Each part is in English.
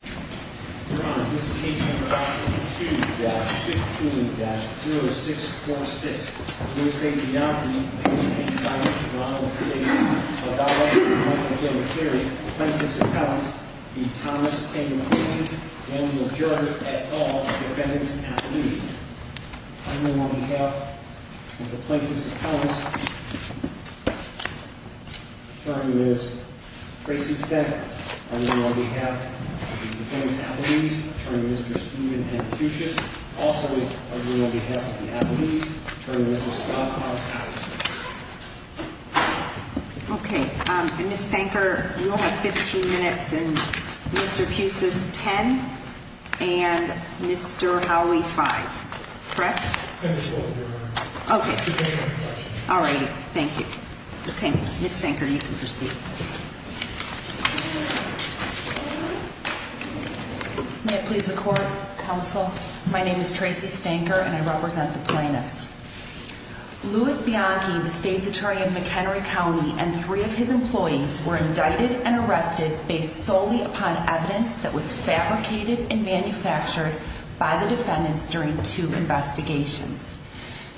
This case number is 52-15-0646. We will say the name of the plaintiff's appellant, Thomas M. McQueen, and we will adjourn at all defendants at the meeting. I move on behalf of the plaintiff's appellants, attorney Ms. Tracy Stenck, I move on behalf of the defendants' appellees, attorney Mr. Steven M. Pucis, also I move on behalf of the appellees, attorney Mr. Scott Cohn-Powell. Okay, Ms. Stenck, you will have 15 minutes and Mr. Pucis 10 and Mr. Howie 5, correct? Okay, all righty, thank you. Okay, Ms. Stenck, you can proceed. May it please the court, counsel, my name is Tracy Stenck and I represent the plaintiffs. Louis Bianchi, the state's attorney in McHenry County and three of his employees were indicted and arrested based solely upon evidence that was fabricated and manufactured by the defendants during two investigations.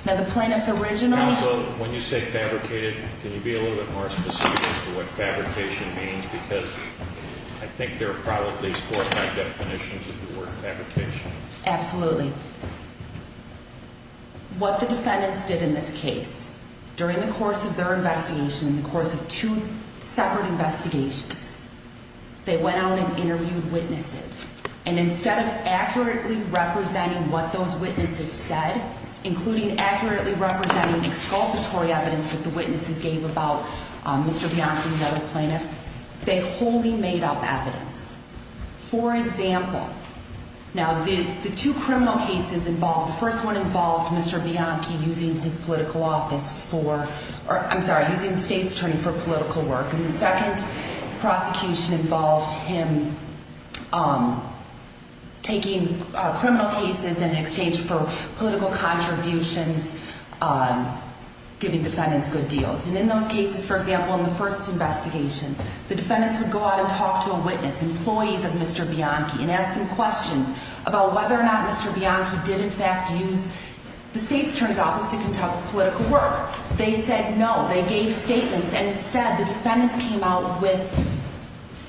Now, the plaintiffs originally... Counsel, when you say fabricated, can you be a little bit more specific as to what fabrication means? Because I think there are probably four or five definitions of the word fabrication. Absolutely. What the defendants did in this case, during the course of their investigation, in the course of two separate investigations, they went out and interviewed witnesses. And instead of accurately representing what those witnesses said, including accurately representing exculpatory evidence that the witnesses gave about Mr. Bianchi and the other plaintiffs, they wholly made up evidence. For example, now the two criminal cases involved... The first one involved Mr. Bianchi using his political office for... I'm sorry, using the state's attorney for political work. And the second prosecution involved him taking criminal cases in exchange for political contributions, giving defendants good deals. And in those cases, for example, in the first investigation, the defendants would go out and talk to a witness, employees of Mr. Bianchi, and ask them questions about whether or not Mr. Bianchi did in fact use the state's attorney's office to conduct political work. They said no. They gave statements. And instead, the defendants came out with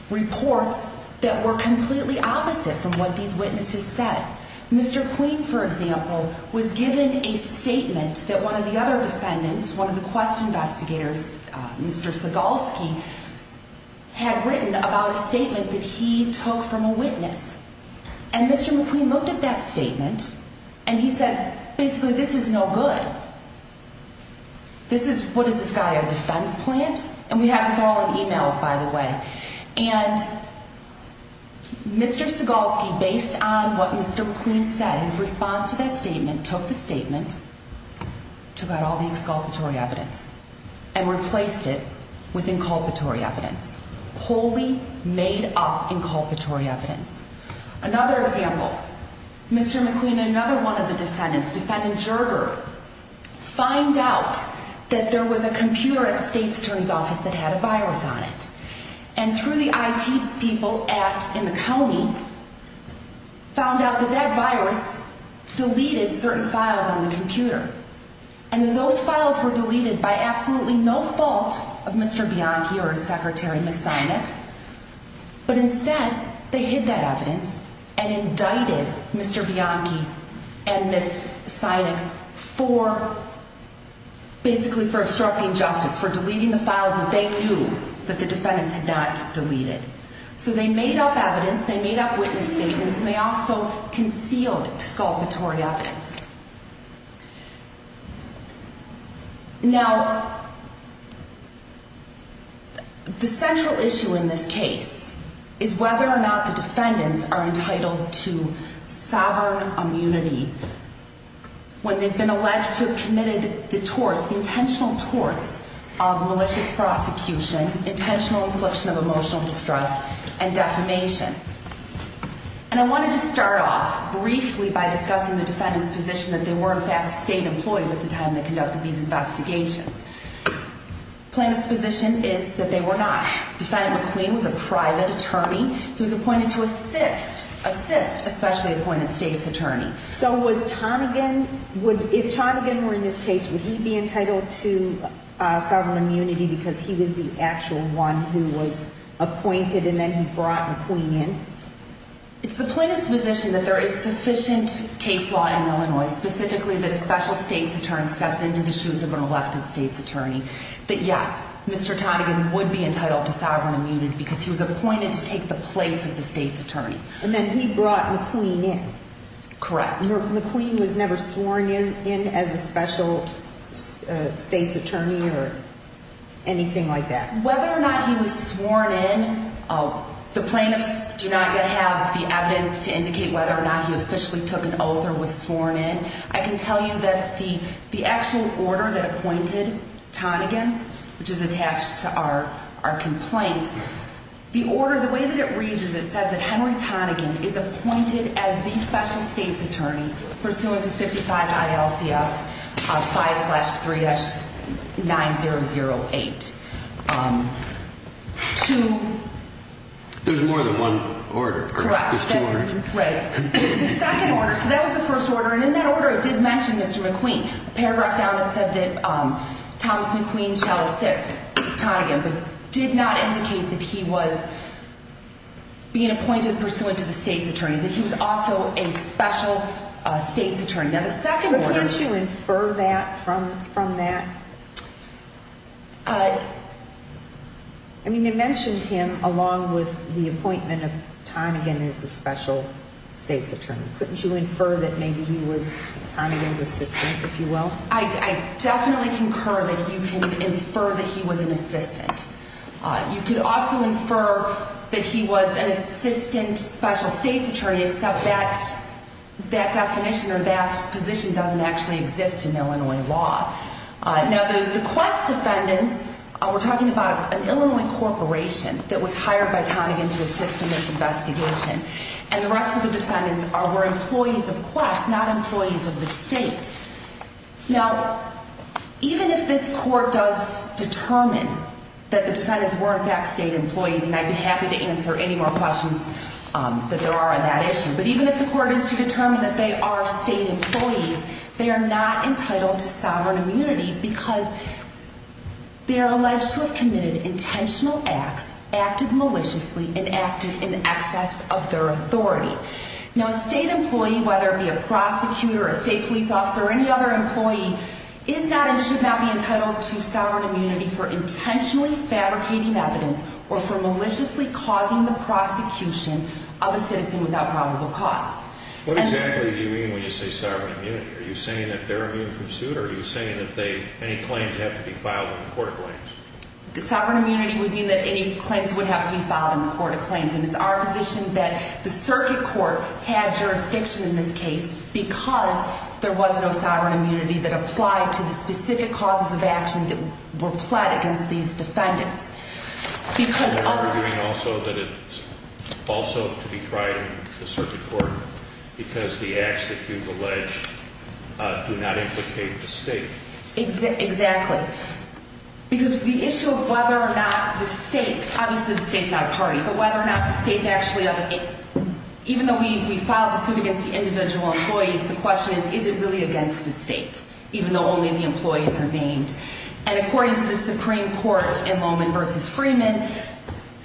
reports that were completely opposite from what these witnesses said. Mr. McQueen, for example, was given a statement that one of the other defendants, one of the quest investigators, Mr. Segalski, had written about a statement that he took from a witness. And Mr. McQueen looked at that statement and he said, basically, this is no good. This is... what is this guy, a defense plant? And we have this all in emails, by the way. And Mr. Segalski, based on what Mr. McQueen said, his response to that statement, took the statement, took out all the exculpatory evidence, and replaced it with inculpatory evidence. Wholly made up inculpatory evidence. Another example. Mr. McQueen and another one of the defendants, Defendant Gerger, find out that there was a computer at the state's attorney's office that had a virus on it. And through the IT people at... in the county, found out that that virus deleted certain files on the computer. And that those files were deleted by absolutely no fault of Mr. Bianchi or his secretary, Ms. Sinek. But instead, they hid that evidence and indicted Mr. Bianchi and Ms. Sinek for... basically for obstructing justice, for deleting the files that they knew that the defendants had not deleted. So they made up evidence, they made up witness statements, and they also concealed exculpatory evidence. Now, the central issue in this case is whether or not the defendants are entitled to sovereign immunity when they've been alleged to have committed the torts, the intentional torts of malicious prosecution, intentional infliction of emotional distress, and defamation. And I wanted to start off briefly by discussing the defendant's position that they were in fact state employees at the time they conducted these investigations. Plaintiff's position is that they were not. Defendant McQueen was a private attorney who was appointed to assist... assist a specially appointed state's attorney. So was Tonegan... if Tonegan were in this case, would he be entitled to sovereign immunity because he was the actual one who was appointed and then he brought McQueen in? It's the plaintiff's position that there is sufficient case law in Illinois, specifically that a special state's attorney steps into the shoes of an elected state's attorney, that yes, Mr. Tonegan would be entitled to sovereign immunity because he was appointed to take the place of the state's attorney. And then he brought McQueen in. Correct. McQueen was never sworn in as a special state's attorney or anything like that? Whether or not he was sworn in, the plaintiffs do not yet have the evidence to indicate whether or not he officially took an oath or was sworn in. I can tell you that the... the actual order that appointed Tonegan, which is attached to our... our complaint, the order, the way that it reads is it says that Henry Tonegan is appointed as the special state's attorney pursuant to 55 ILCS 5-3-9008. To... There's more than one order. Correct. There's two orders. Right. The second order, so that was the first order, and in that order it did mention Mr. McQueen. The paragraph down it said that Thomas McQueen shall assist Tonegan, but did not indicate that he was being appointed pursuant to the state's attorney, that he was also a special state's attorney. Now, the second order... But can't you infer that from... from that? I mean, it mentioned him along with the appointment of Tonegan as the special state's attorney. Couldn't you infer that maybe he was Tonegan's assistant, if you will? I... I definitely concur that you can infer that he was an assistant. You could also infer that he was an assistant special state's attorney, except that... that definition or that position doesn't actually exist in Illinois law. Now, the Quest defendants, we're talking about an Illinois corporation that was hired by Tonegan to assist in this investigation, and the rest of the defendants were employees of Quest, not employees of the state. Now, even if this court does determine that the defendants were in fact state employees, and I'd be happy to answer any more questions that there are on that issue, but even if the court is to determine that they are state employees, they are not entitled to sovereign immunity because they are alleged to have committed intentional acts, acted maliciously, and acted in excess of their authority. Now, a state employee, whether it be a prosecutor, a state police officer, or any other employee, is not and should not be entitled to sovereign immunity for intentionally fabricating evidence or for maliciously causing the prosecution of a citizen without probable cause. What exactly do you mean when you say sovereign immunity? Are you saying that they're immune from suit, or are you saying that they... any claims have to be filed in the court of claims? Sovereign immunity would mean that any claims would have to be filed in the court of claims, and it's our position that the circuit court had jurisdiction in this case because there was no sovereign immunity that applied to the specific causes of action that were pled against these defendants. Are you arguing also that it's also to be tried in the circuit court because the acts that you've alleged do not implicate the state? Exactly. Because the issue of whether or not the state, obviously the state's not a party, but whether or not the state's actually... even though we filed the suit against the individual employees, the question is, is it really against the state, even though only the employees are named? And according to the Supreme Court in Loman v. Freeman,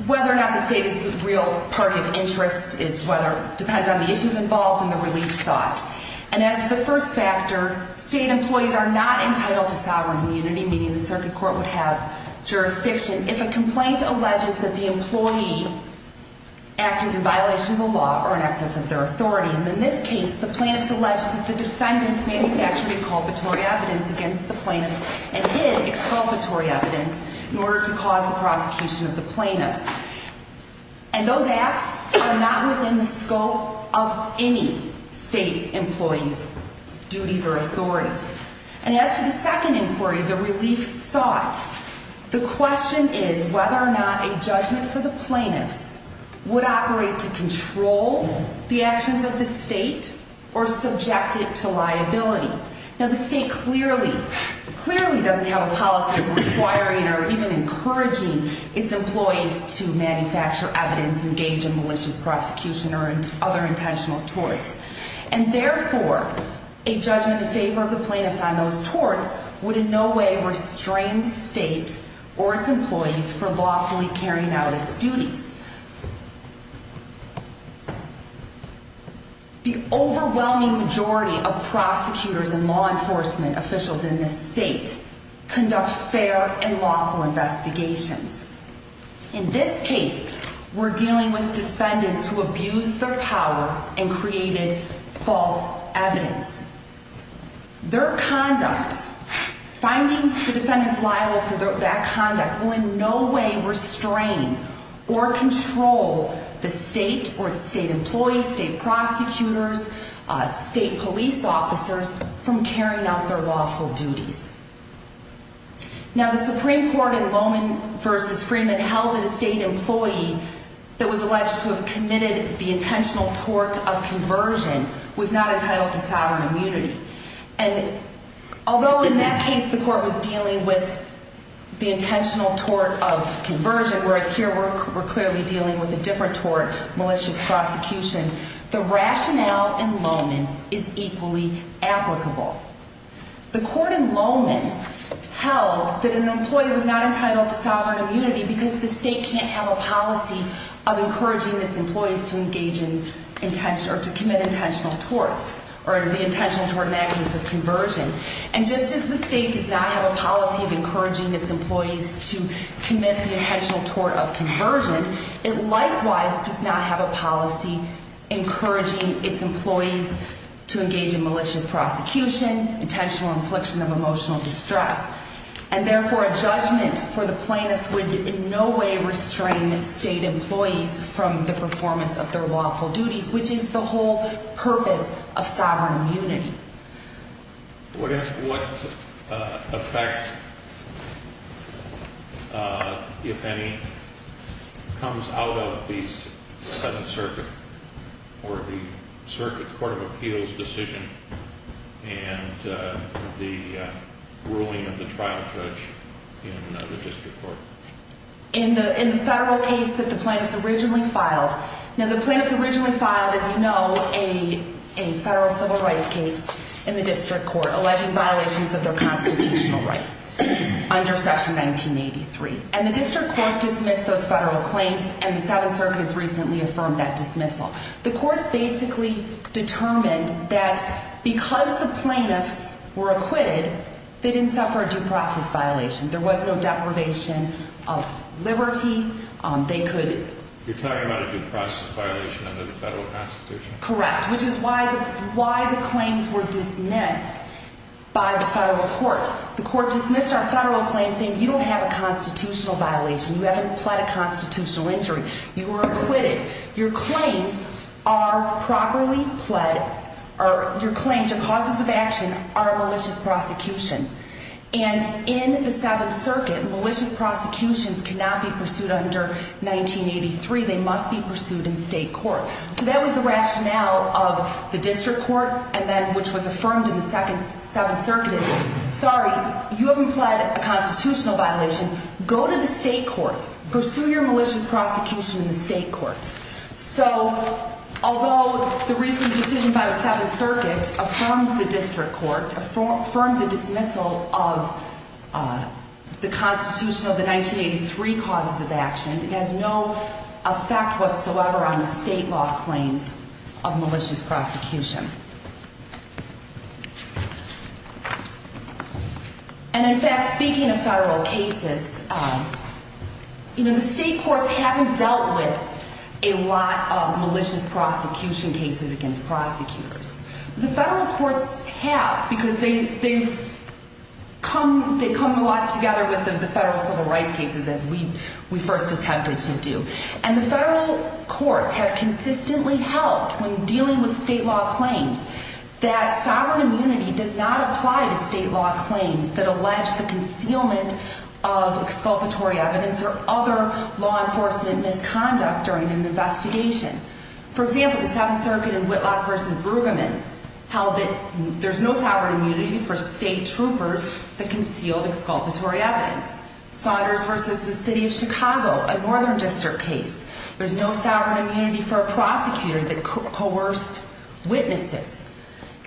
whether or not the state is the real party of interest depends on the issues involved and the relief sought. And as to the first factor, state employees are not entitled to sovereign immunity, meaning the circuit court would have jurisdiction if a complaint alleges that the employee acted in violation of the law or in excess of their authority. And in this case, the plaintiffs alleged that the defendants manufactured exculpatory evidence against the plaintiffs and hid exculpatory evidence in order to cause the prosecution of the plaintiffs. And those acts are not within the scope of any state employee's duties or authority. And as to the second inquiry, the relief sought, the question is whether or not a judgment for the plaintiffs would operate to control the actions of the state or subject it to liability. Now, the state clearly doesn't have a policy of requiring or even encouraging its employees to manufacture evidence, engage in malicious prosecution, or other intentional torts. And therefore, a judgment in favor of the plaintiffs on those torts would in no way restrain the state or its employees from lawfully carrying out its duties. The overwhelming majority of prosecutors and law enforcement officials in this state conduct fair and lawful investigations. In this case, we're dealing with defendants who abused their power and created false evidence. Their conduct, finding the defendants liable for that conduct, will in no way restrain or control the state or its state employees, state prosecutors, state police officers from carrying out their lawful duties. Now, the Supreme Court in Lohman v. Freeman held that a state employee that was alleged to have committed the intentional tort of conversion was not entitled to sovereign immunity. And although in that case the court was dealing with the intentional tort of conversion, whereas here we're clearly dealing with a different tort, malicious prosecution, the rationale in Lohman is equally applicable. The court in Lohman held that an employee was not entitled to sovereign immunity because the state can't have a policy of encouraging its employees to engage in or to commit intentional torts or the intentional tort of conversion. And just as the state does not have a policy of encouraging its employees to commit the intentional tort of conversion, it likewise does not have a policy encouraging its employees to engage in malicious prosecution, intentional infliction of emotional distress. And therefore, a judgment for the plaintiffs would in no way restrain state employees from the performance of their lawful duties, which is the whole purpose of sovereign immunity. What effect, if any, comes out of the Seventh Circuit or the Circuit Court of Appeals decision and the ruling of the trial judge in the district court? In the federal case that the plaintiffs originally filed, now the plaintiffs originally filed, as you know, a federal civil rights case in the district court alleging violations of their constitutional rights under Section 1983. And the district court dismissed those federal claims, and the Seventh Circuit has recently affirmed that dismissal. The courts basically determined that because the plaintiffs were acquitted, they didn't suffer a due process violation. There was no deprivation of liberty. They could... You're talking about a due process violation under the federal constitution? Correct, which is why the claims were dismissed by the federal court. The court dismissed our federal claim saying, you don't have a constitutional violation. You haven't applied a constitutional injury. You were acquitted. Your claims are properly pled... Your claims, your causes of action, are a malicious prosecution. And in the Seventh Circuit, malicious prosecutions cannot be pursued under 1983. They must be pursued in state court. So that was the rationale of the district court, which was affirmed in the Seventh Circuit. Sorry, you haven't pled a constitutional violation. Go to the state courts. Pursue your malicious prosecution in the state courts. So although the recent decision by the Seventh Circuit affirmed the district court, affirmed the dismissal of the constitution of the 1983 causes of action, it has no effect whatsoever on the state law claims of malicious prosecution. And, in fact, speaking of federal cases, the state courts haven't dealt with a lot of malicious prosecution cases against prosecutors. The federal courts have because they come a lot together with the federal civil rights cases, as we first attempted to do. And the federal courts have consistently helped when dealing with state law claims that sovereign immunity does not apply to state law claims that allege the concealment of exculpatory evidence or other law enforcement misconduct during an investigation. For example, the Seventh Circuit in Whitlock v. Brueggemann held that there's no sovereign immunity for state troopers that concealed exculpatory evidence. Saunders v. The City of Chicago, a northern district case, there's no sovereign immunity for a prosecutor that coerced witnesses.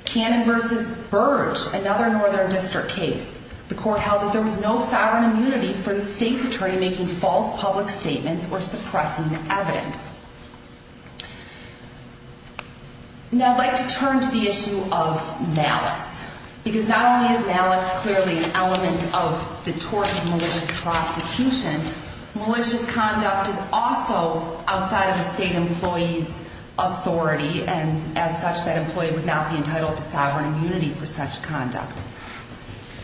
Cannon v. Burge, another northern district case, the court held that there was no sovereign immunity for the state's attorney making false public statements or suppressing evidence. Now I'd like to turn to the issue of malice. Because not only is malice clearly an element of the tort of malicious prosecution, malicious conduct is also outside of the state employee's authority and as such that employee would not be entitled to sovereign immunity for such conduct.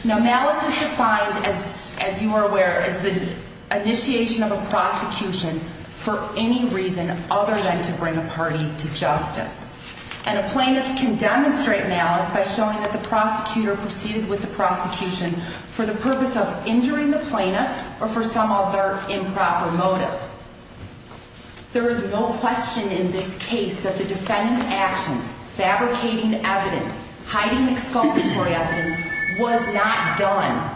Now malice is defined, as you are aware, as the initiation of a prosecution for any reason other than to bring a party to justice. And a plaintiff can demonstrate malice by showing that the prosecutor proceeded with the prosecution for the purpose of injuring the plaintiff or for some other improper motive. There is no question in this case that the defendant's actions, fabricating evidence, hiding exculpatory evidence, was not done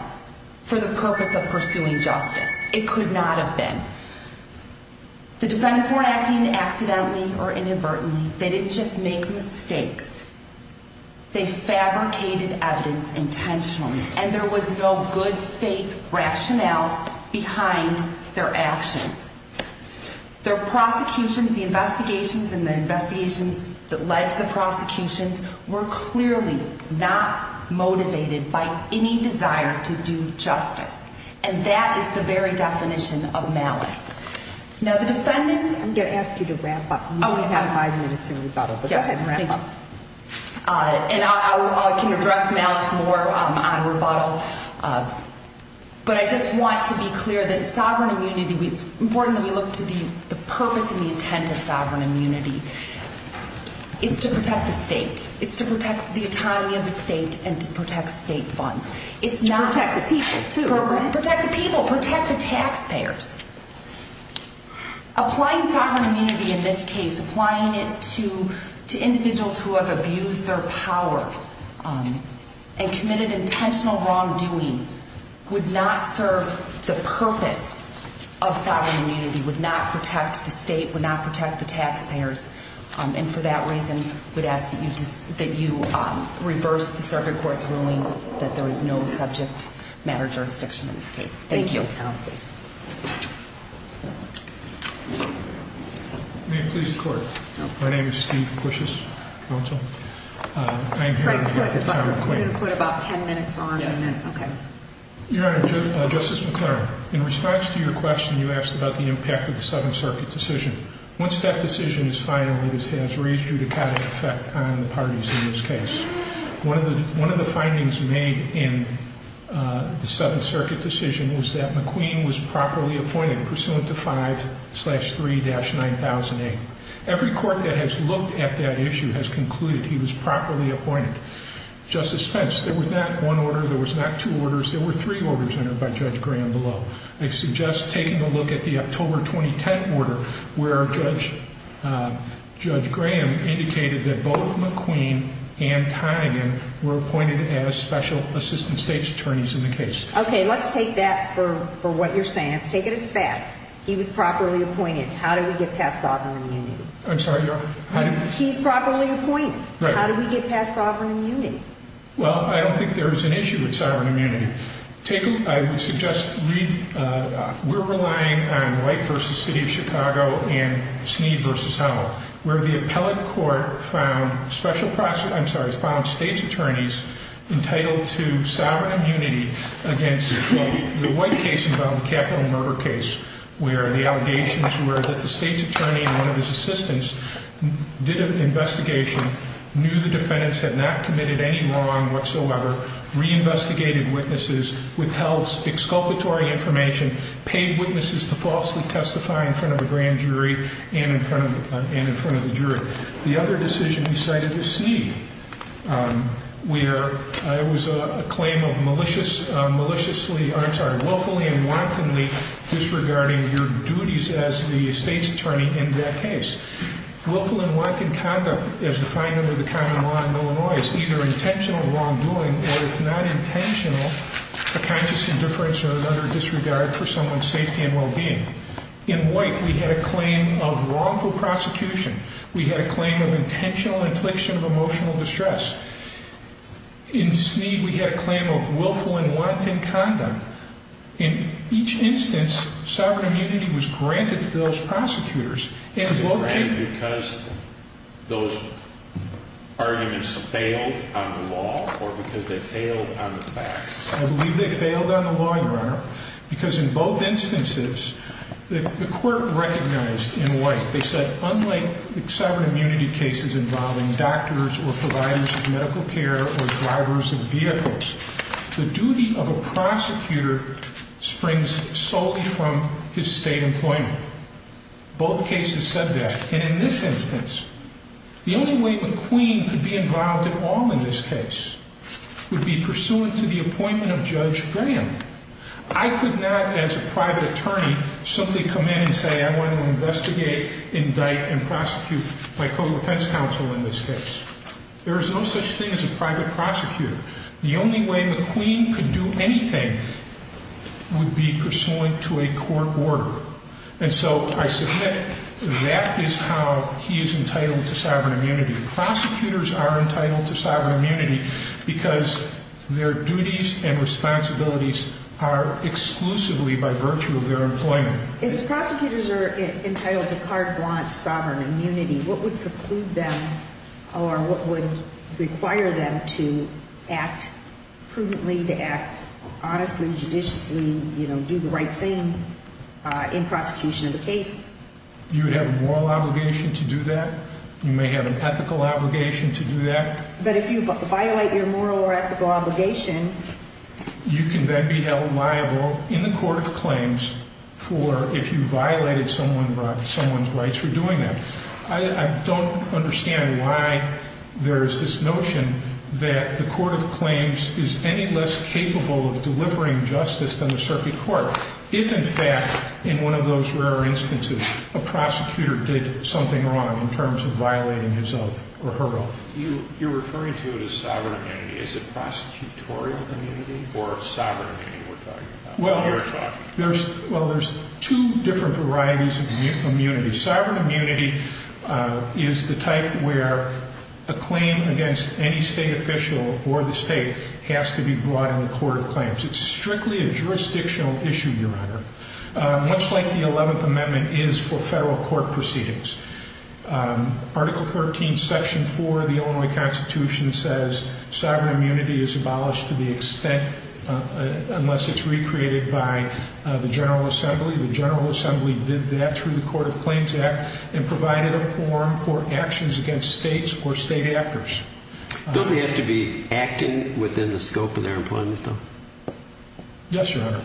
for the purpose of pursuing justice. It could not have been. The defendants weren't acting accidentally or inadvertently. They didn't just make mistakes. They fabricated evidence intentionally and there was no good faith rationale behind their actions. Their prosecution, the investigations and the investigations that led to the prosecution were clearly not motivated by any desire to do justice. And that is the very definition of malice. Now the defendants... I'm going to ask you to wrap up. We have five minutes in rebuttal. Yes, thank you. And I can address malice more on rebuttal. But I just want to be clear that sovereign immunity, it's important that we look to the purpose and the intent of sovereign immunity. It's to protect the state. It's to protect the autonomy of the state and to protect state funds. It's not... To protect the people too. Protect the people. Protect the taxpayers. Applying sovereign immunity in this case, applying it to individuals who have abused their power and committed intentional wrongdoing would not serve the purpose of sovereign immunity, would not protect the state, would not protect the taxpayers. And for that reason, I would ask that you reverse the circuit court's ruling that there is no subject matter jurisdiction in this case. Thank you. Thank you, counsel. May it please the court. My name is Steve Cushis. I'm here to... You're going to put about 10 minutes on and then... Yes. Okay. Your Honor, Justice McLaren, in response to your question you asked about the impact of the Seventh Circuit decision. Once that decision is final, it has raised judicata effect on the parties in this case. One of the findings made in the Seventh Circuit decision was that McQueen was properly appointed pursuant to 5-3-9008. Every court that has looked at that issue has concluded he was properly appointed. Justice Spence, there was not one order, there was not two orders, there were three orders entered by Judge Graham below. I suggest taking a look at the October 2010 order where Judge Graham indicated that both McQueen and Conaghan were appointed as Special Assistant States Attorneys in the case. Okay, let's take that for what you're saying. Let's take it as fact. He was properly appointed. How did we get past sovereign immunity? I'm sorry, Your Honor? He's properly appointed. How did we get past sovereign immunity? Well, I don't think there is an issue with sovereign immunity. I would suggest we're relying on White v. City of Chicago and Sneed v. Howell where the appellate court found States Attorneys entitled to sovereign immunity against the White case involving the Capitol murder case where the allegations were that the States Attorney and one of his assistants did an investigation, knew the defendants had not committed any wrong whatsoever, reinvestigated witnesses, withheld exculpatory information, paid witnesses to falsely testify in front of a grand jury and in front of the jury. The other decision he cited was Sneed where it was a claim of maliciously, I'm sorry, willfully and wantonly disregarding your duties as the States Attorney in that case. Willful and wanton conduct as defined under the common law in Illinois is either intentional wrongdoing or, if not intentional, a conscious indifference or another disregard for someone's safety and well-being. In White, we had a claim of wrongful prosecution. We had a claim of intentional infliction of emotional distress. In Sneed, we had a claim of willful and wanton conduct. In each instance, sovereign immunity was granted to those prosecutors. Was it granted because those arguments failed on the law or because they failed on the facts? I believe they failed on the law, Your Honor, because in both instances, the court recognized in White, they said unlike sovereign immunity cases involving doctors or providers of medical care or drivers of vehicles, the duty of a prosecutor springs solely from his state employment. Both cases said that. And in this instance, the only way McQueen could be involved at all in this case would be pursuant to the appointment of Judge Graham. I could not, as a private attorney, simply come in and say, I want to investigate, indict, and prosecute my co-defense counsel in this case. There is no such thing as a private prosecutor. The only way McQueen could do anything would be pursuant to a court order. And so I submit that is how he is entitled to sovereign immunity. Prosecutors are entitled to sovereign immunity because their duties and responsibilities are exclusively by virtue of their employment. If prosecutors are entitled to carte blanche sovereign immunity, what would preclude them or what would require them to act prudently, to act honestly, judiciously, you know, do the right thing in prosecution of a case? You would have a moral obligation to do that. You may have an ethical obligation to do that. But if you violate your moral or ethical obligation, you can then be held liable in the court of claims for if you violated someone's rights for doing that. I don't understand why there is this notion that the court of claims is any less capable of delivering justice than the circuit court if, in fact, in one of those rare instances, a prosecutor did something wrong in terms of violating his oath or her oath. You're referring to it as sovereign immunity. Is it prosecutorial immunity or sovereign immunity we're talking about? Well, there's two different varieties of immunity. Sovereign immunity is the type where a claim against any state official or the state has to be brought in the court of claims. It's strictly a jurisdictional issue, Your Honor, much like the 11th Amendment is for federal court proceedings. Article 13, Section 4 of the Illinois Constitution says sovereign immunity is abolished to the extent unless it's recreated by the General Assembly. The General Assembly did that through the Court of Claims Act and provided a forum for actions against states or state actors. Don't they have to be acting within the scope of their employment, though? Yes, Your Honor.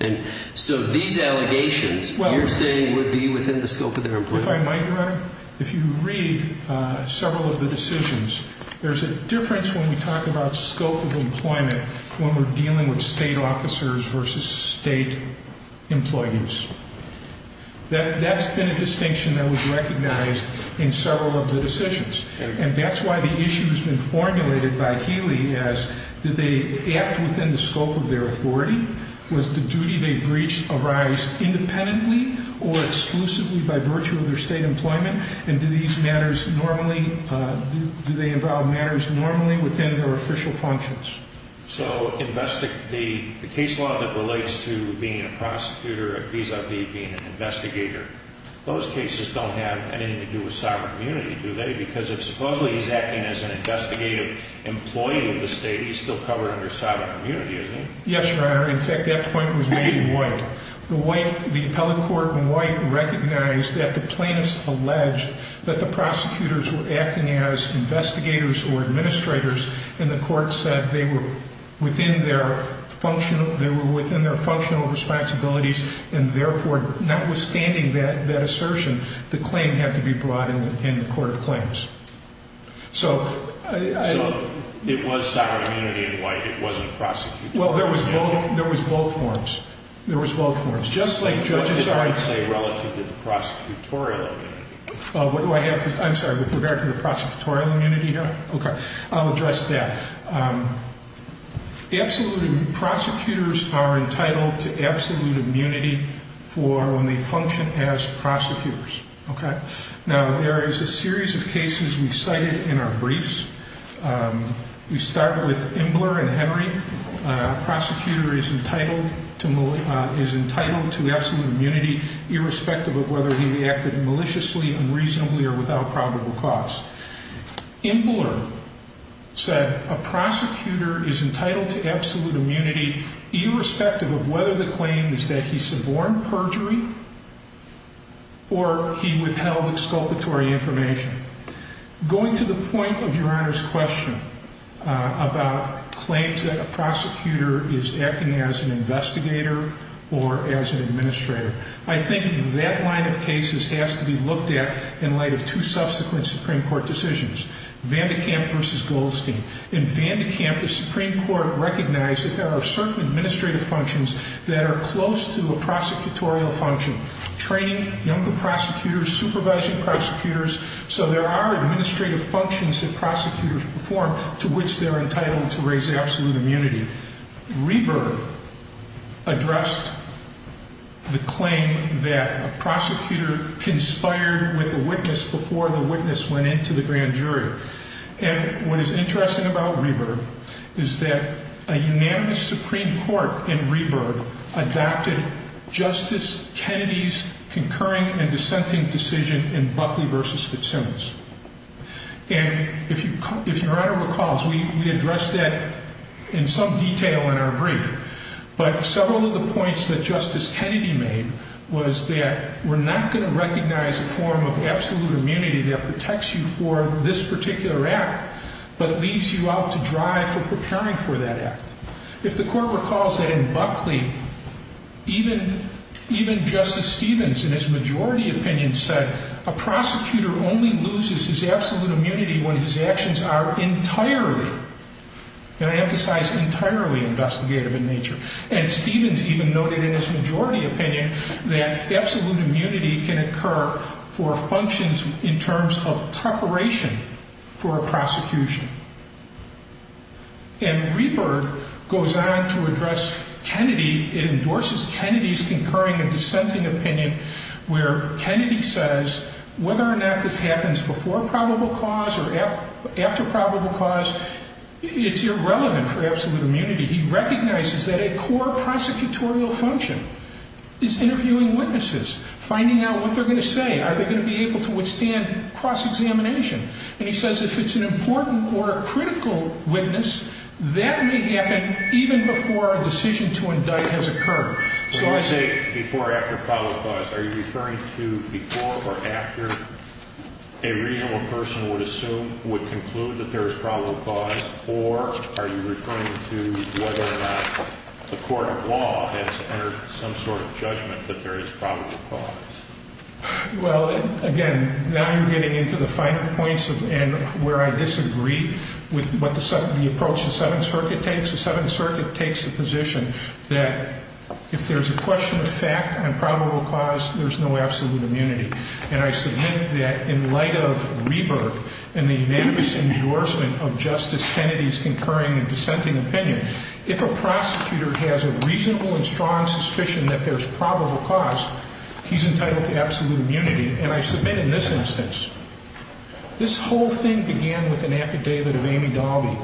And so these allegations you're saying would be within the scope of their employment? If I might, Your Honor, if you read several of the decisions, there's a difference when we talk about scope of employment when we're dealing with state officers versus state employees. That's been a distinction that was recognized in several of the decisions. And that's why the issue has been formulated by Healy as did they act within the scope of their authority? Was the duty they breached arised independently or exclusively by virtue of their state employment? And do they involve matters normally within their official functions? So the case law that relates to being a prosecutor vis-a-vis being an investigator, those cases don't have anything to do with sovereign immunity, do they? Because if supposedly he's acting as an investigative employee of the state, he's still covered under sovereign immunity, isn't he? Yes, Your Honor. In fact, that point was made in White. The White, the appellate court in White recognized that the plaintiffs alleged that the prosecutors were acting as investigators or administrators, and the court said they were within their functional responsibilities and therefore notwithstanding that assertion, the claim had to be brought in the court of claims. So it was sovereign immunity in White. It wasn't prosecutorial. Well, there was both forms. There was both forms. Just like judges are... I'm sorry. Relative to the prosecutorial immunity. What do I have to say? I'm sorry. With regard to the prosecutorial immunity, Your Honor? Okay. I'll address that. Absolute prosecutors are entitled to absolute immunity for when they function as prosecutors. Okay? Now, there is a series of cases we've cited in our briefs. We start with Imbler and Henry. Prosecutor is entitled to absolute immunity irrespective of whether he reacted maliciously, unreasonably, or without probable cause. Imbler said a prosecutor is entitled to absolute immunity irrespective of whether the claim is that he suborned perjury or he withheld exculpatory information. Going to the point of Your Honor's question about claims that a prosecutor is acting as an investigator or as an administrator, I think that line of cases has to be looked at in light of two subsequent Supreme Court decisions, Vandekamp v. Goldstein. In Vandekamp, the Supreme Court recognized that there are certain administrative functions that are close to a prosecutorial function, training younger prosecutors, supervising prosecutors. So there are administrative functions that prosecutors perform to which they're entitled to raise absolute immunity. Reber addressed the claim that a prosecutor conspired with a witness before the witness went into the grand jury. And what is interesting about Reber is that a unanimous Supreme Court in Reber adopted Justice Kennedy's concurring and dissenting decision in Buckley v. Fitzsimmons. And if Your Honor recalls, we addressed that in some detail in our brief. But several of the points that Justice Kennedy made was that we're not going to recognize a form of absolute immunity that protects you for this particular act but leaves you out to dry for preparing for that act. If the Court recalls that in Buckley, even Justice Stevens, in his majority opinion, said a prosecutor only loses his absolute immunity when his actions are entirely, and I emphasize entirely, investigative in nature. And Stevens even noted in his majority opinion that absolute immunity can occur for functions in terms of preparation for a prosecution. And Reber goes on to address Kennedy. It endorses Kennedy's concurring and dissenting opinion where Kennedy says whether or not this happens before probable cause or after probable cause, it's irrelevant for absolute immunity. He recognizes that a core prosecutorial function is interviewing witnesses, finding out what they're going to say. Are they going to be able to withstand cross-examination? And he says if it's an important or a critical witness, that may happen even before a decision to indict has occurred. So I say before or after probable cause. Are you referring to before or after a reasonable person would assume, would conclude that there is probable cause? Or are you referring to whether or not the court of law has entered some sort of judgment that there is probable cause? Well, again, now you're getting into the final points where I disagree with what the approach the Seventh Circuit takes. The Seventh Circuit takes the position that if there's a question of fact on probable cause, there's no absolute immunity. And I submit that in light of Reber and the unanimous endorsement of Justice Kennedy's concurring and dissenting opinion, if a prosecutor has a reasonable and strong suspicion that there's probable cause, he's entitled to absolute immunity. And I submit in this instance, this whole thing began with an affidavit of Amy Dalby.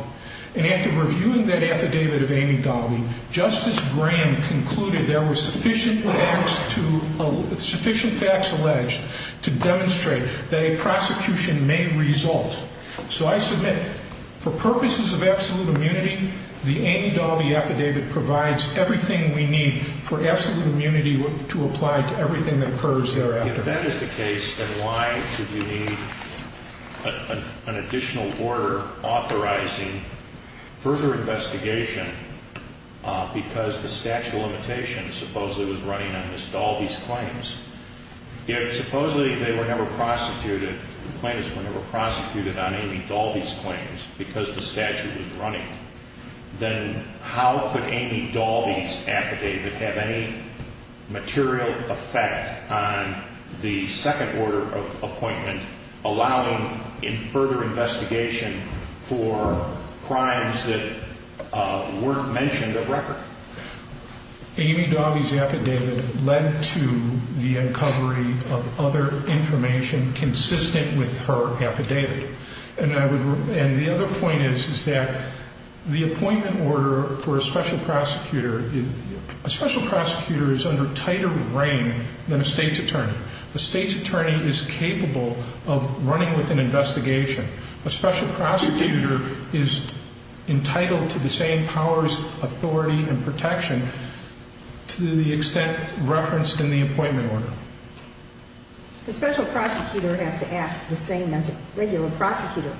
And after reviewing that affidavit of Amy Dalby, Justice Graham concluded there were sufficient facts to, sufficient facts alleged to demonstrate that a prosecution may result. So I submit for purposes of absolute immunity, the Amy Dalby affidavit provides everything we need for absolute immunity to apply to everything that occurs thereafter. Well, if that is the case, then why should you need an additional order authorizing further investigation because the statute of limitations supposedly was running on Ms. Dalby's claims? If supposedly they were never prosecuted, the plaintiffs were never prosecuted on Amy Dalby's claims because the statute was running, then how could Amy Dalby's affidavit have any material effect on the second order of appointment allowing further investigation for crimes that weren't mentioned of record? Amy Dalby's affidavit led to the uncovery of other information consistent with her affidavit. And I would, and the other point is, is that the appointment order for a special prosecutor, a special prosecutor is under tighter reign than a state's attorney. A state's attorney is capable of running with an investigation. A special prosecutor is entitled to the same powers, authority, and protection to the extent referenced in the appointment order. A special prosecutor has to act the same as a regular prosecutor.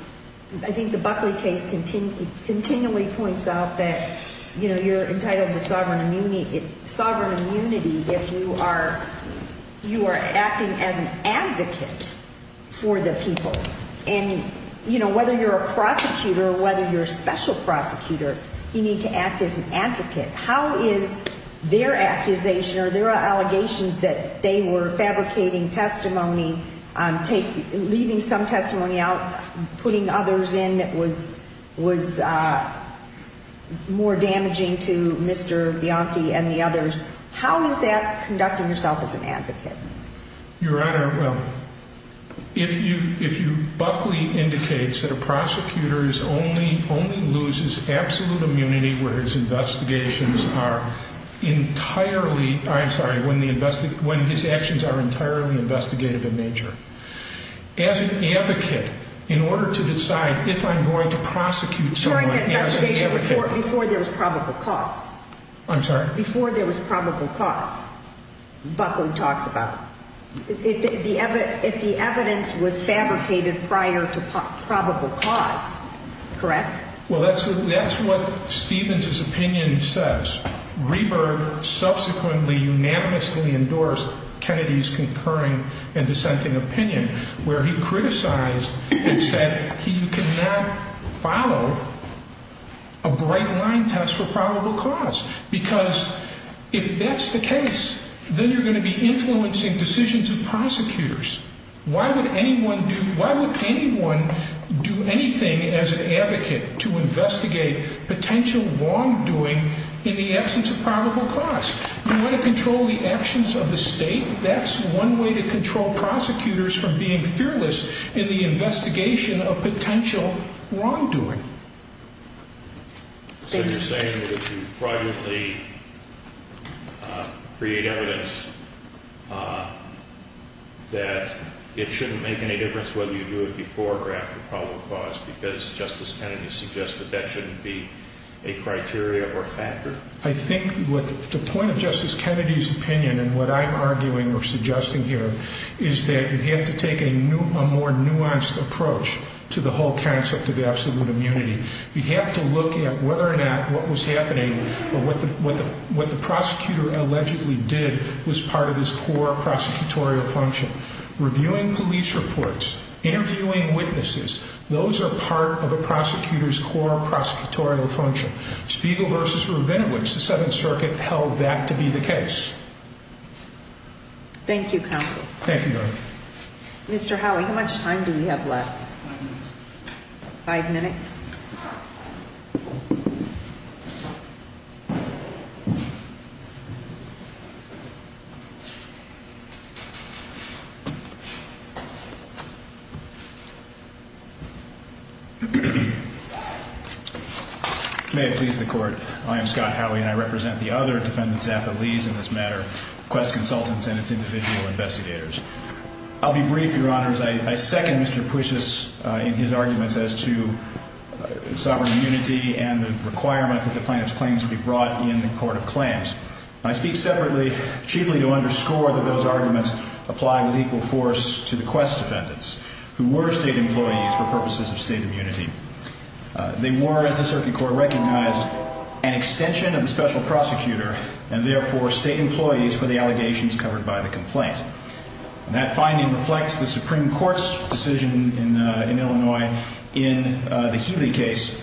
I think the Buckley case continually points out that, you know, you're entitled to sovereign immunity if you are acting as an advocate for the people. And, you know, whether you're a prosecutor or whether you're a special prosecutor, you need to act as an advocate. How is their accusation or their allegations that they were fabricating testimony, leaving some testimony out, putting others in that was more damaging to Mr. Bianchi and the others, how is that conducting yourself as an advocate? Your Honor, well, if you, if you, Buckley indicates that a prosecutor is only, only loses absolute immunity where his investigations are entirely, I'm sorry, when his actions are entirely investigative in nature. As an advocate, in order to decide if I'm going to prosecute someone as an advocate. Before there was probable cause. I'm sorry? Before there was probable cause, Buckley talks about. If the evidence was fabricated prior to probable cause, correct? Well, that's, that's what Stevens's opinion says. Reber subsequently unanimously endorsed Kennedy's concurring and dissenting opinion where he criticized and said he could not follow a bright line test for probable cause. Because if that's the case, then you're going to be influencing decisions of prosecutors. Why would anyone do? Why would anyone do anything as an advocate to investigate potential wrongdoing in the absence of probable cause? We want to control the actions of the state. That's one way to control prosecutors from being fearless in the investigation of potential wrongdoing. So you're saying that if you privately create evidence that it shouldn't make any difference whether you do it before or after probable cause because Justice Kennedy suggested that shouldn't be a criteria or factor. I think the point of Justice Kennedy's opinion and what I'm arguing or suggesting here is that you have to take a more nuanced approach to the whole concept of absolute immunity. You have to look at whether or not what was happening or what the prosecutor allegedly did was part of his core prosecutorial function. Reviewing police reports, interviewing witnesses. Those are part of a prosecutor's core prosecutorial function. Spiegel versus Rubenowitz, the Seventh Circuit held that to be the case. Thank you. Thank you. Mr. Howie, how much time do we have left? Five minutes. May it please the court. I am Scott Howie and I represent the other defendants at the lease in this matter, Quest Consultants and its individual investigators. I'll be brief, Your Honors. I second Mr. Puchas in his arguments as to sovereign immunity and the requirement that the plaintiff's claims be brought in the court of claims. I speak separately, chiefly to underscore that those arguments apply with equal force to the Quest defendants, who were state employees for purposes of state immunity. They were, as the circuit court recognized, an extension of the special prosecutor and therefore state employees for the allegations covered by the complaint. And that finding reflects the Supreme Court's decision in Illinois in the Huey case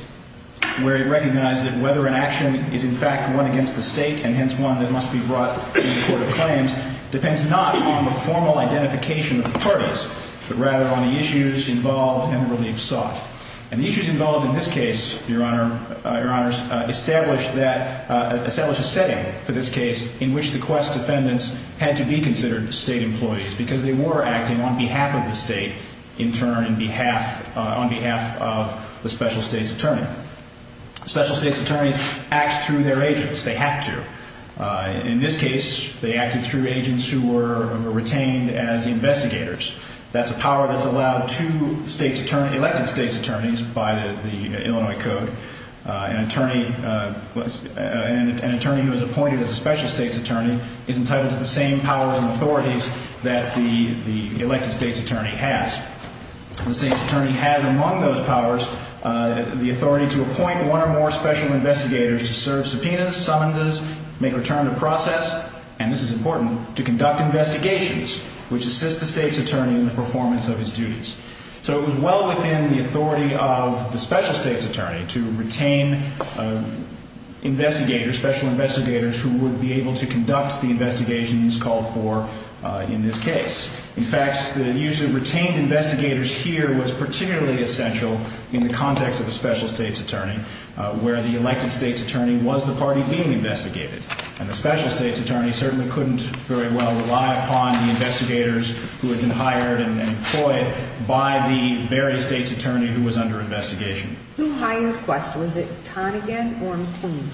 where it recognized that whether an action is in fact one against the state and hence one that must be brought in the court of claims depends not on the formal identification of the parties but rather on the issues involved and the relief sought. And the issues involved in this case, Your Honors, established a setting for this case in which the Quest defendants had to be considered state employees because they were acting on behalf of the state, in turn, on behalf of the special state's attorney. Special state's attorneys act through their agents. They have to. In this case, they acted through agents who were retained as investigators. That's a power that's allowed to elected state's attorneys by the Illinois Code. An attorney who is appointed as a special state's attorney is entitled to the same powers and authorities that the elected state's attorney has. The state's attorney has among those powers the authority to appoint one or more special investigators to serve subpoenas, summonses, make return to process, and this is important, to conduct investigations which assist the state's attorney in the performance of his duties. So it was well within the authority of the special state's attorney to retain investigators, special investigators, who would be able to conduct the investigations called for in this case. In fact, the use of retained investigators here was particularly essential in the context of a special state's attorney where the elected state's attorney was the party being investigated. And the special state's attorney certainly couldn't very well rely upon the investigators who had been hired and employed by the very state's attorney who was under investigation. Who hired Quest? Was it Tonegan or McQueen?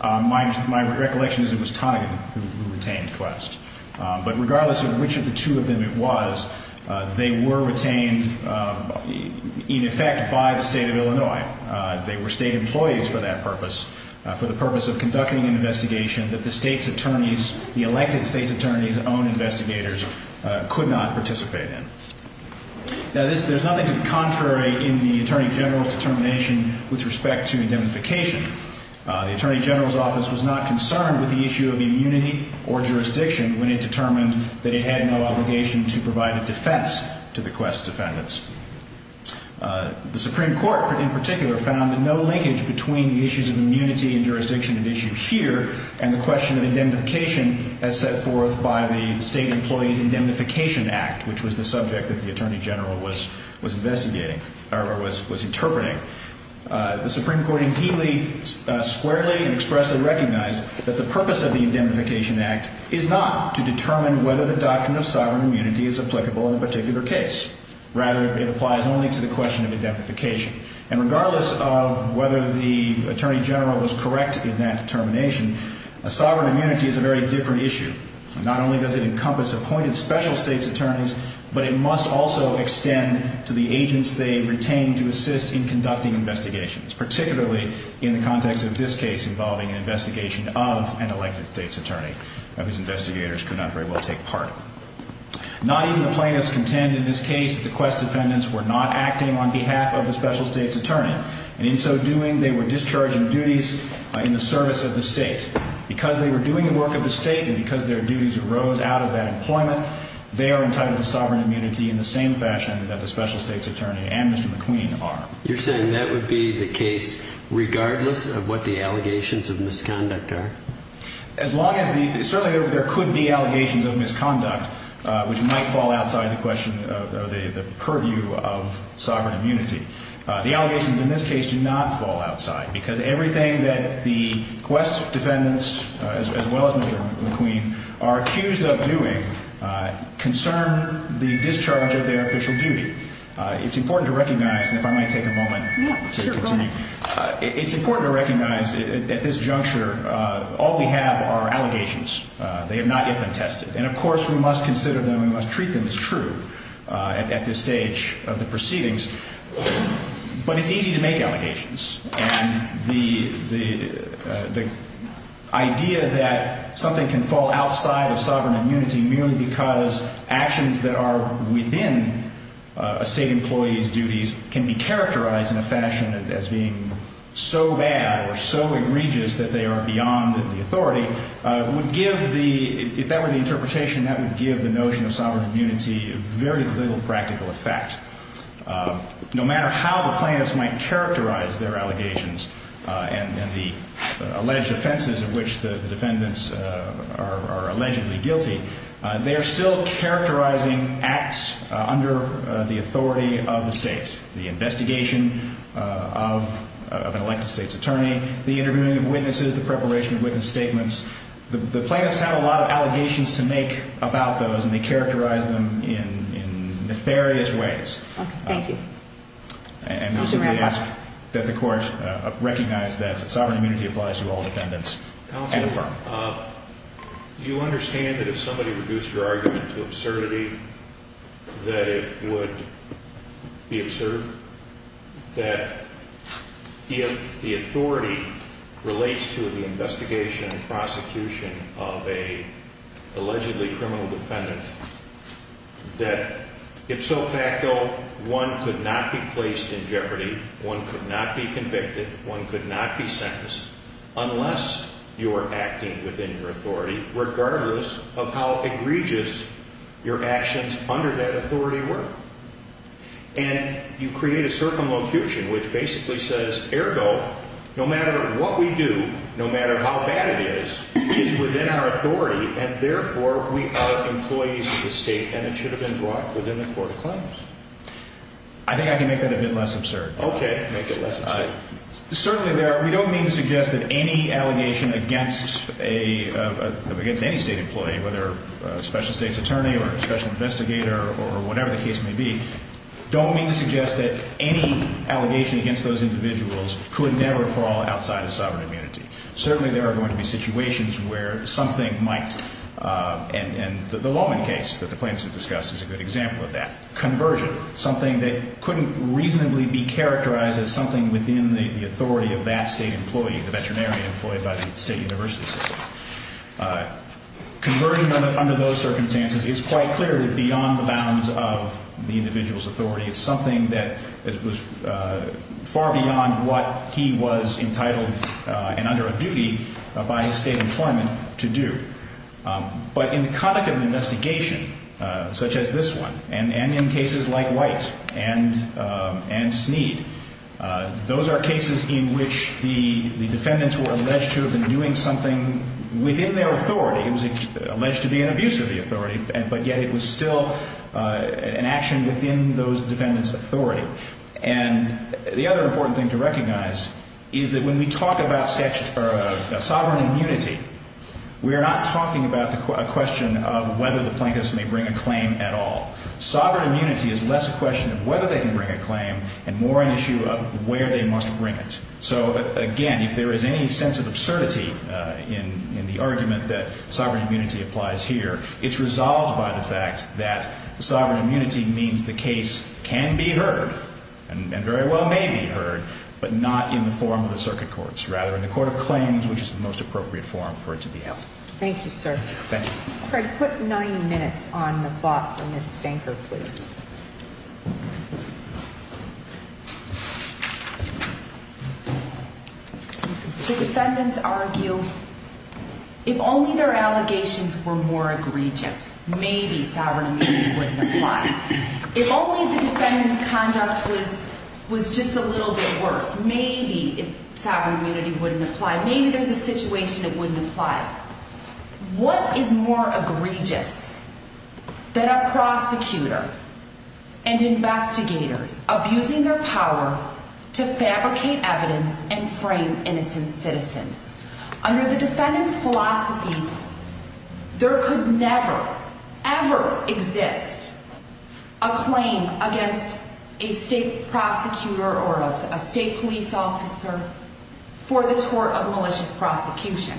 My recollection is it was Tonegan who retained Quest. But regardless of which of the two of them it was, they were retained in effect by the state of Illinois. They were state employees for that purpose, for the purpose of conducting an investigation that the state's attorney's, the elected state's attorney's own investigators could not participate in. Now, there's nothing to the contrary in the attorney general's determination with respect to indemnification. The attorney general's office was not concerned with the issue of immunity or jurisdiction when it determined that it had no obligation to provide a defense to the Quest defendants. The Supreme Court, in particular, found no linkage between the issues of immunity and jurisdiction at issue here and the question of indemnification as set forth by the State Employees Indemnification Act, which was the subject that the attorney general was investigating, or was interpreting. The Supreme Court indeedly, squarely, and expressly recognized that the purpose of the Indemnification Act is not to determine whether the doctrine of sovereign immunity is applicable in a particular case. Rather, it applies only to the question of indemnification. And regardless of whether the attorney general was correct in that determination, a sovereign immunity is a very different issue. Not only does it encompass appointed special state's attorneys, but it must also extend to the agents they retain to assist in conducting investigations, particularly in the context of this case involving an investigation of an elected state's attorney, of whose investigators could not very well take part. Not even the plaintiffs contend in this case that the Quest defendants were not acting on behalf of the special state's attorney. And in so doing, they were discharging duties in the service of the state. Because they were doing the work of the state and because their duties arose out of that employment, they are entitled to sovereign immunity in the same fashion that the special state's attorney and Mr. McQueen are. You're saying that would be the case regardless of what the allegations of misconduct are? Certainly there could be allegations of misconduct, which might fall outside the question of the purview of sovereign immunity. The allegations in this case do not fall outside because everything that the Quest defendants, as well as Mr. McQueen, are accused of doing concern the discharge of their official duty. It's important to recognize, and if I might take a moment to continue, it's important to recognize at this juncture all we have are allegations. They have not yet been tested. And of course we must consider them and we must treat them as true at this stage of the proceedings. But it's easy to make allegations. And the idea that something can fall outside of sovereign immunity merely because actions that are within a state employee's duties can be characterized in a fashion as being so bad or so egregious that they are beyond the authority would give the, if that were the interpretation, that would give the notion of sovereign immunity very little practical effect. No matter how the plaintiffs might characterize their allegations and the alleged offenses of which the defendants are allegedly guilty, they are still characterizing acts under the authority of the state, the investigation of an elected state's attorney, the interviewing of witnesses, the preparation of witness statements. The plaintiffs have a lot of allegations to make about those and they characterize them in nefarious ways. Thank you. And we simply ask that the court recognize that sovereign immunity applies to all defendants and affirm. Do you understand that if somebody reduced your argument to absurdity that it would be absurd? That if the authority relates to the investigation and prosecution of an allegedly criminal defendant, that ipso facto one could not be placed in jeopardy, one could not be convicted, one could not be sentenced unless you are acting within your authority regardless of how egregious your actions under that authority were. And you create a circumlocution which basically says, ergo, no matter what we do, no matter how bad it is, it is within our authority and therefore we are employees of the state and it should have been brought within the court of claims. I think I can make that a bit less absurd. Okay. Make it less absurd. Certainly we don't mean to suggest that any allegation against any state employee, whether a special state's attorney or a special investigator or whatever the case may be, don't mean to suggest that any allegation against those individuals could never fall outside of sovereign immunity. Certainly there are going to be situations where something might, and the Lawman case that the plaintiffs have discussed is a good example of that, conversion, something that couldn't reasonably be characterized as something within the authority of that state employee, the veterinarian employed by the state university system. Conversion under those circumstances is quite clearly beyond the bounds of the individual's authority. It's something that was far beyond what he was entitled and under a duty by his state employment to do. But in the conduct of an investigation such as this one and in cases like White and Sneed, those are cases in which the defendants were alleged to have been doing something within their authority. It was alleged to be an abuse of the authority, but yet it was still an action within those defendants' authority. And the other important thing to recognize is that when we talk about sovereign immunity, we are not talking about a question of whether the plaintiffs may bring a claim at all. Sovereign immunity is less a question of whether they can bring a claim and more an issue of where they must bring it. So, again, if there is any sense of absurdity in the argument that sovereign immunity applies here, it's resolved by the fact that sovereign immunity means the case can be heard and very well may be heard, but not in the form of the circuit courts, rather in the court of claims, which is the most appropriate form for it to be held. Thank you, sir. Thank you. Craig, put nine minutes on the clock for Ms. Stanker, please. The defendants argue if only their allegations were more egregious, maybe sovereign immunity wouldn't apply. If only the defendants' conduct was just a little bit worse, maybe sovereign immunity wouldn't apply. Maybe there's a situation it wouldn't apply. What is more egregious than a prosecutor and investigators abusing their power to fabricate evidence and frame innocent citizens? Under the defendant's philosophy, there could never, ever exist a claim against a state prosecutor or a state police officer for the tort of malicious prosecution.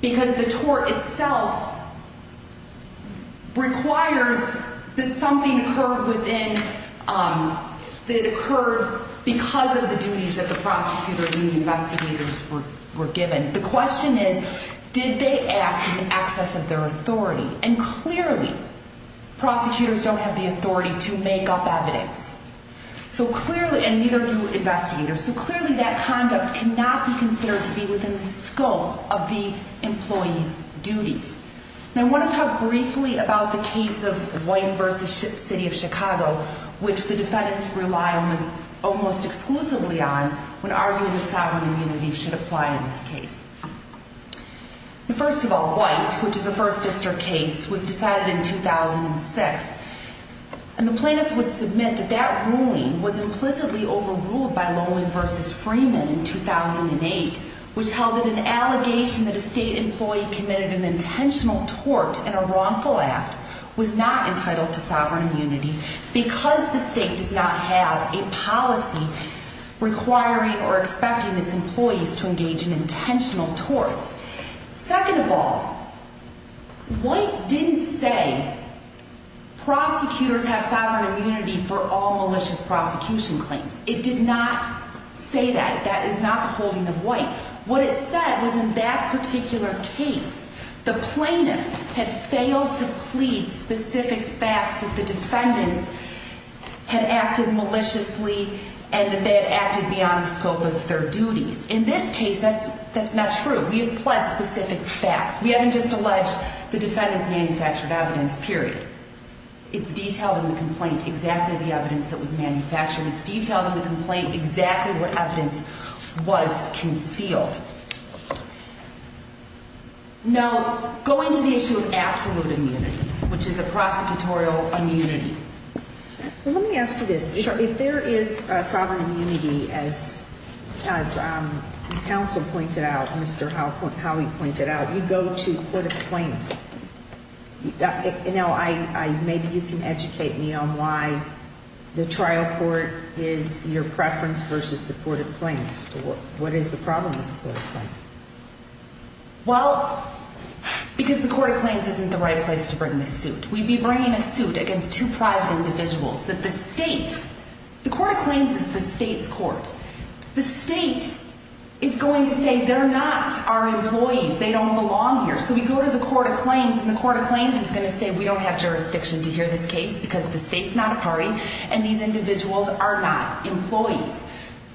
Because the tort itself requires that something occurred because of the duties that the prosecutors and investigators were given. The question is, did they act in excess of their authority? And clearly, prosecutors don't have the authority to make up evidence. And neither do investigators. So clearly, that conduct cannot be considered to be within the scope of the employee's duties. And I want to talk briefly about the case of White v. City of Chicago, which the defendants rely almost exclusively on when arguing that sovereign immunity should apply in this case. First of all, White, which is a First District case, was decided in 2006. And the plaintiffs would submit that that ruling was implicitly overruled by Lowen v. Freeman in 2008, which held that an allegation that a state employee committed an intentional tort in a wrongful act was not entitled to sovereign immunity because the state does not have a policy requiring or expecting its employees to engage in intentional torts. Second of all, White didn't say prosecutors have sovereign immunity for all malicious prosecution claims. It did not say that. That is not the holding of White. What it said was in that particular case, the plaintiffs had failed to plead specific facts that the defendants had acted maliciously and that they had acted beyond the scope of their duties. In this case, that's not true. We have pled specific facts. We haven't just alleged the defendants manufactured evidence, period. It's detailed in the complaint exactly the evidence that was manufactured. It's detailed in the complaint exactly what evidence was concealed. Now, going to the issue of absolute immunity, which is a prosecutorial immunity. Let me ask you this. If there is sovereign immunity, as counsel pointed out, Mr. Howey pointed out, you go to court of claims. Maybe you can educate me on why the trial court is your preference versus the court of claims. What is the problem with the court of claims? Well, because the court of claims isn't the right place to bring the suit. We'd be bringing a suit against two private individuals that the state, the court of claims is the state's court. The state is going to say they're not our employees, they don't belong here. So we go to the court of claims and the court of claims is going to say we don't have jurisdiction to hear this case because the state's not a party and these individuals are not employees.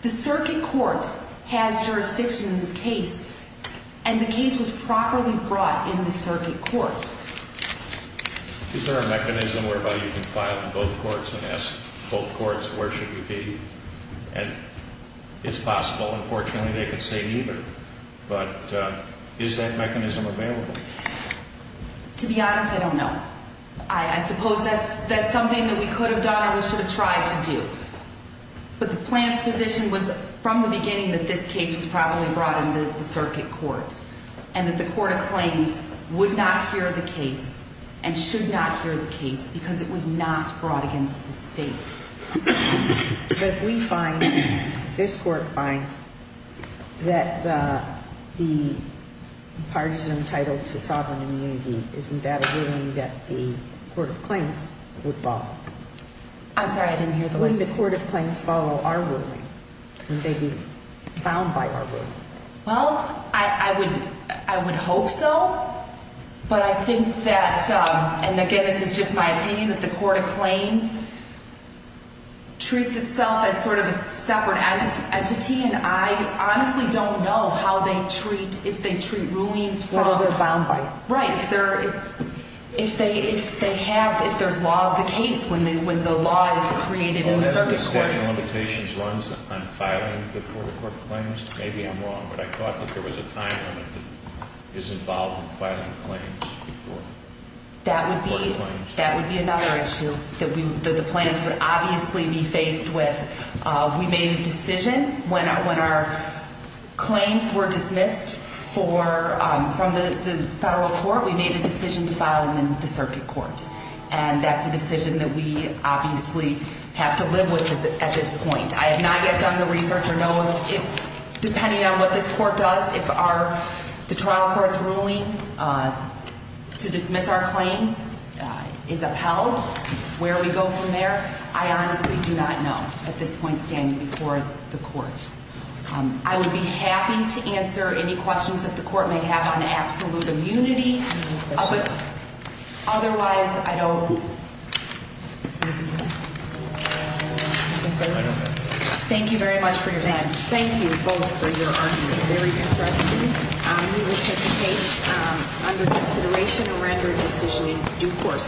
The circuit court has jurisdiction in this case and the case was properly brought in the circuit court. Is there a mechanism whereby you can file in both courts and ask both courts where should you be? And it's possible, unfortunately, they could say neither, but is that mechanism available? To be honest, I don't know. I suppose that's something that we could have done or we should have tried to do. But the plan's position was from the beginning that this case was properly brought in the circuit court and that the court of claims would not hear the case and should not hear the case because it was not brought against the state. But if we find, if this court finds that the partisan title to sovereign immunity, isn't that a ruling that the court of claims would follow? I'm sorry, I didn't hear the question. Wouldn't the court of claims follow our ruling? Wouldn't they be bound by our ruling? Well, I would hope so, but I think that, and again, this is just my opinion, that the court of claims treats itself as sort of a separate entity and I honestly don't know how they treat, if they treat rulings from... Well, they're bound by it. Right. If they have, if there's law of the case when the law is created in the circuit court... Do you think the statute of limitations runs on filing before the court of claims? Maybe I'm wrong, but I thought that there was a time limit that is involved in filing claims before the court of claims. That would be another issue that the plans would obviously be faced with. We made a decision when our claims were dismissed from the federal court, we made a decision to file them in the circuit court. And that's a decision that we obviously have to live with at this point. I have not yet done the research to know if, depending on what this court does, if the trial court's ruling to dismiss our claims is upheld, where we go from there. I honestly do not know at this point standing before the court. I would be happy to answer any questions that the court may have on absolute immunity. Otherwise, I don't... Thank you very much for your time. Thank you both for your argument, very interesting. We will take the case under consideration and render a decision in due course. Thank you.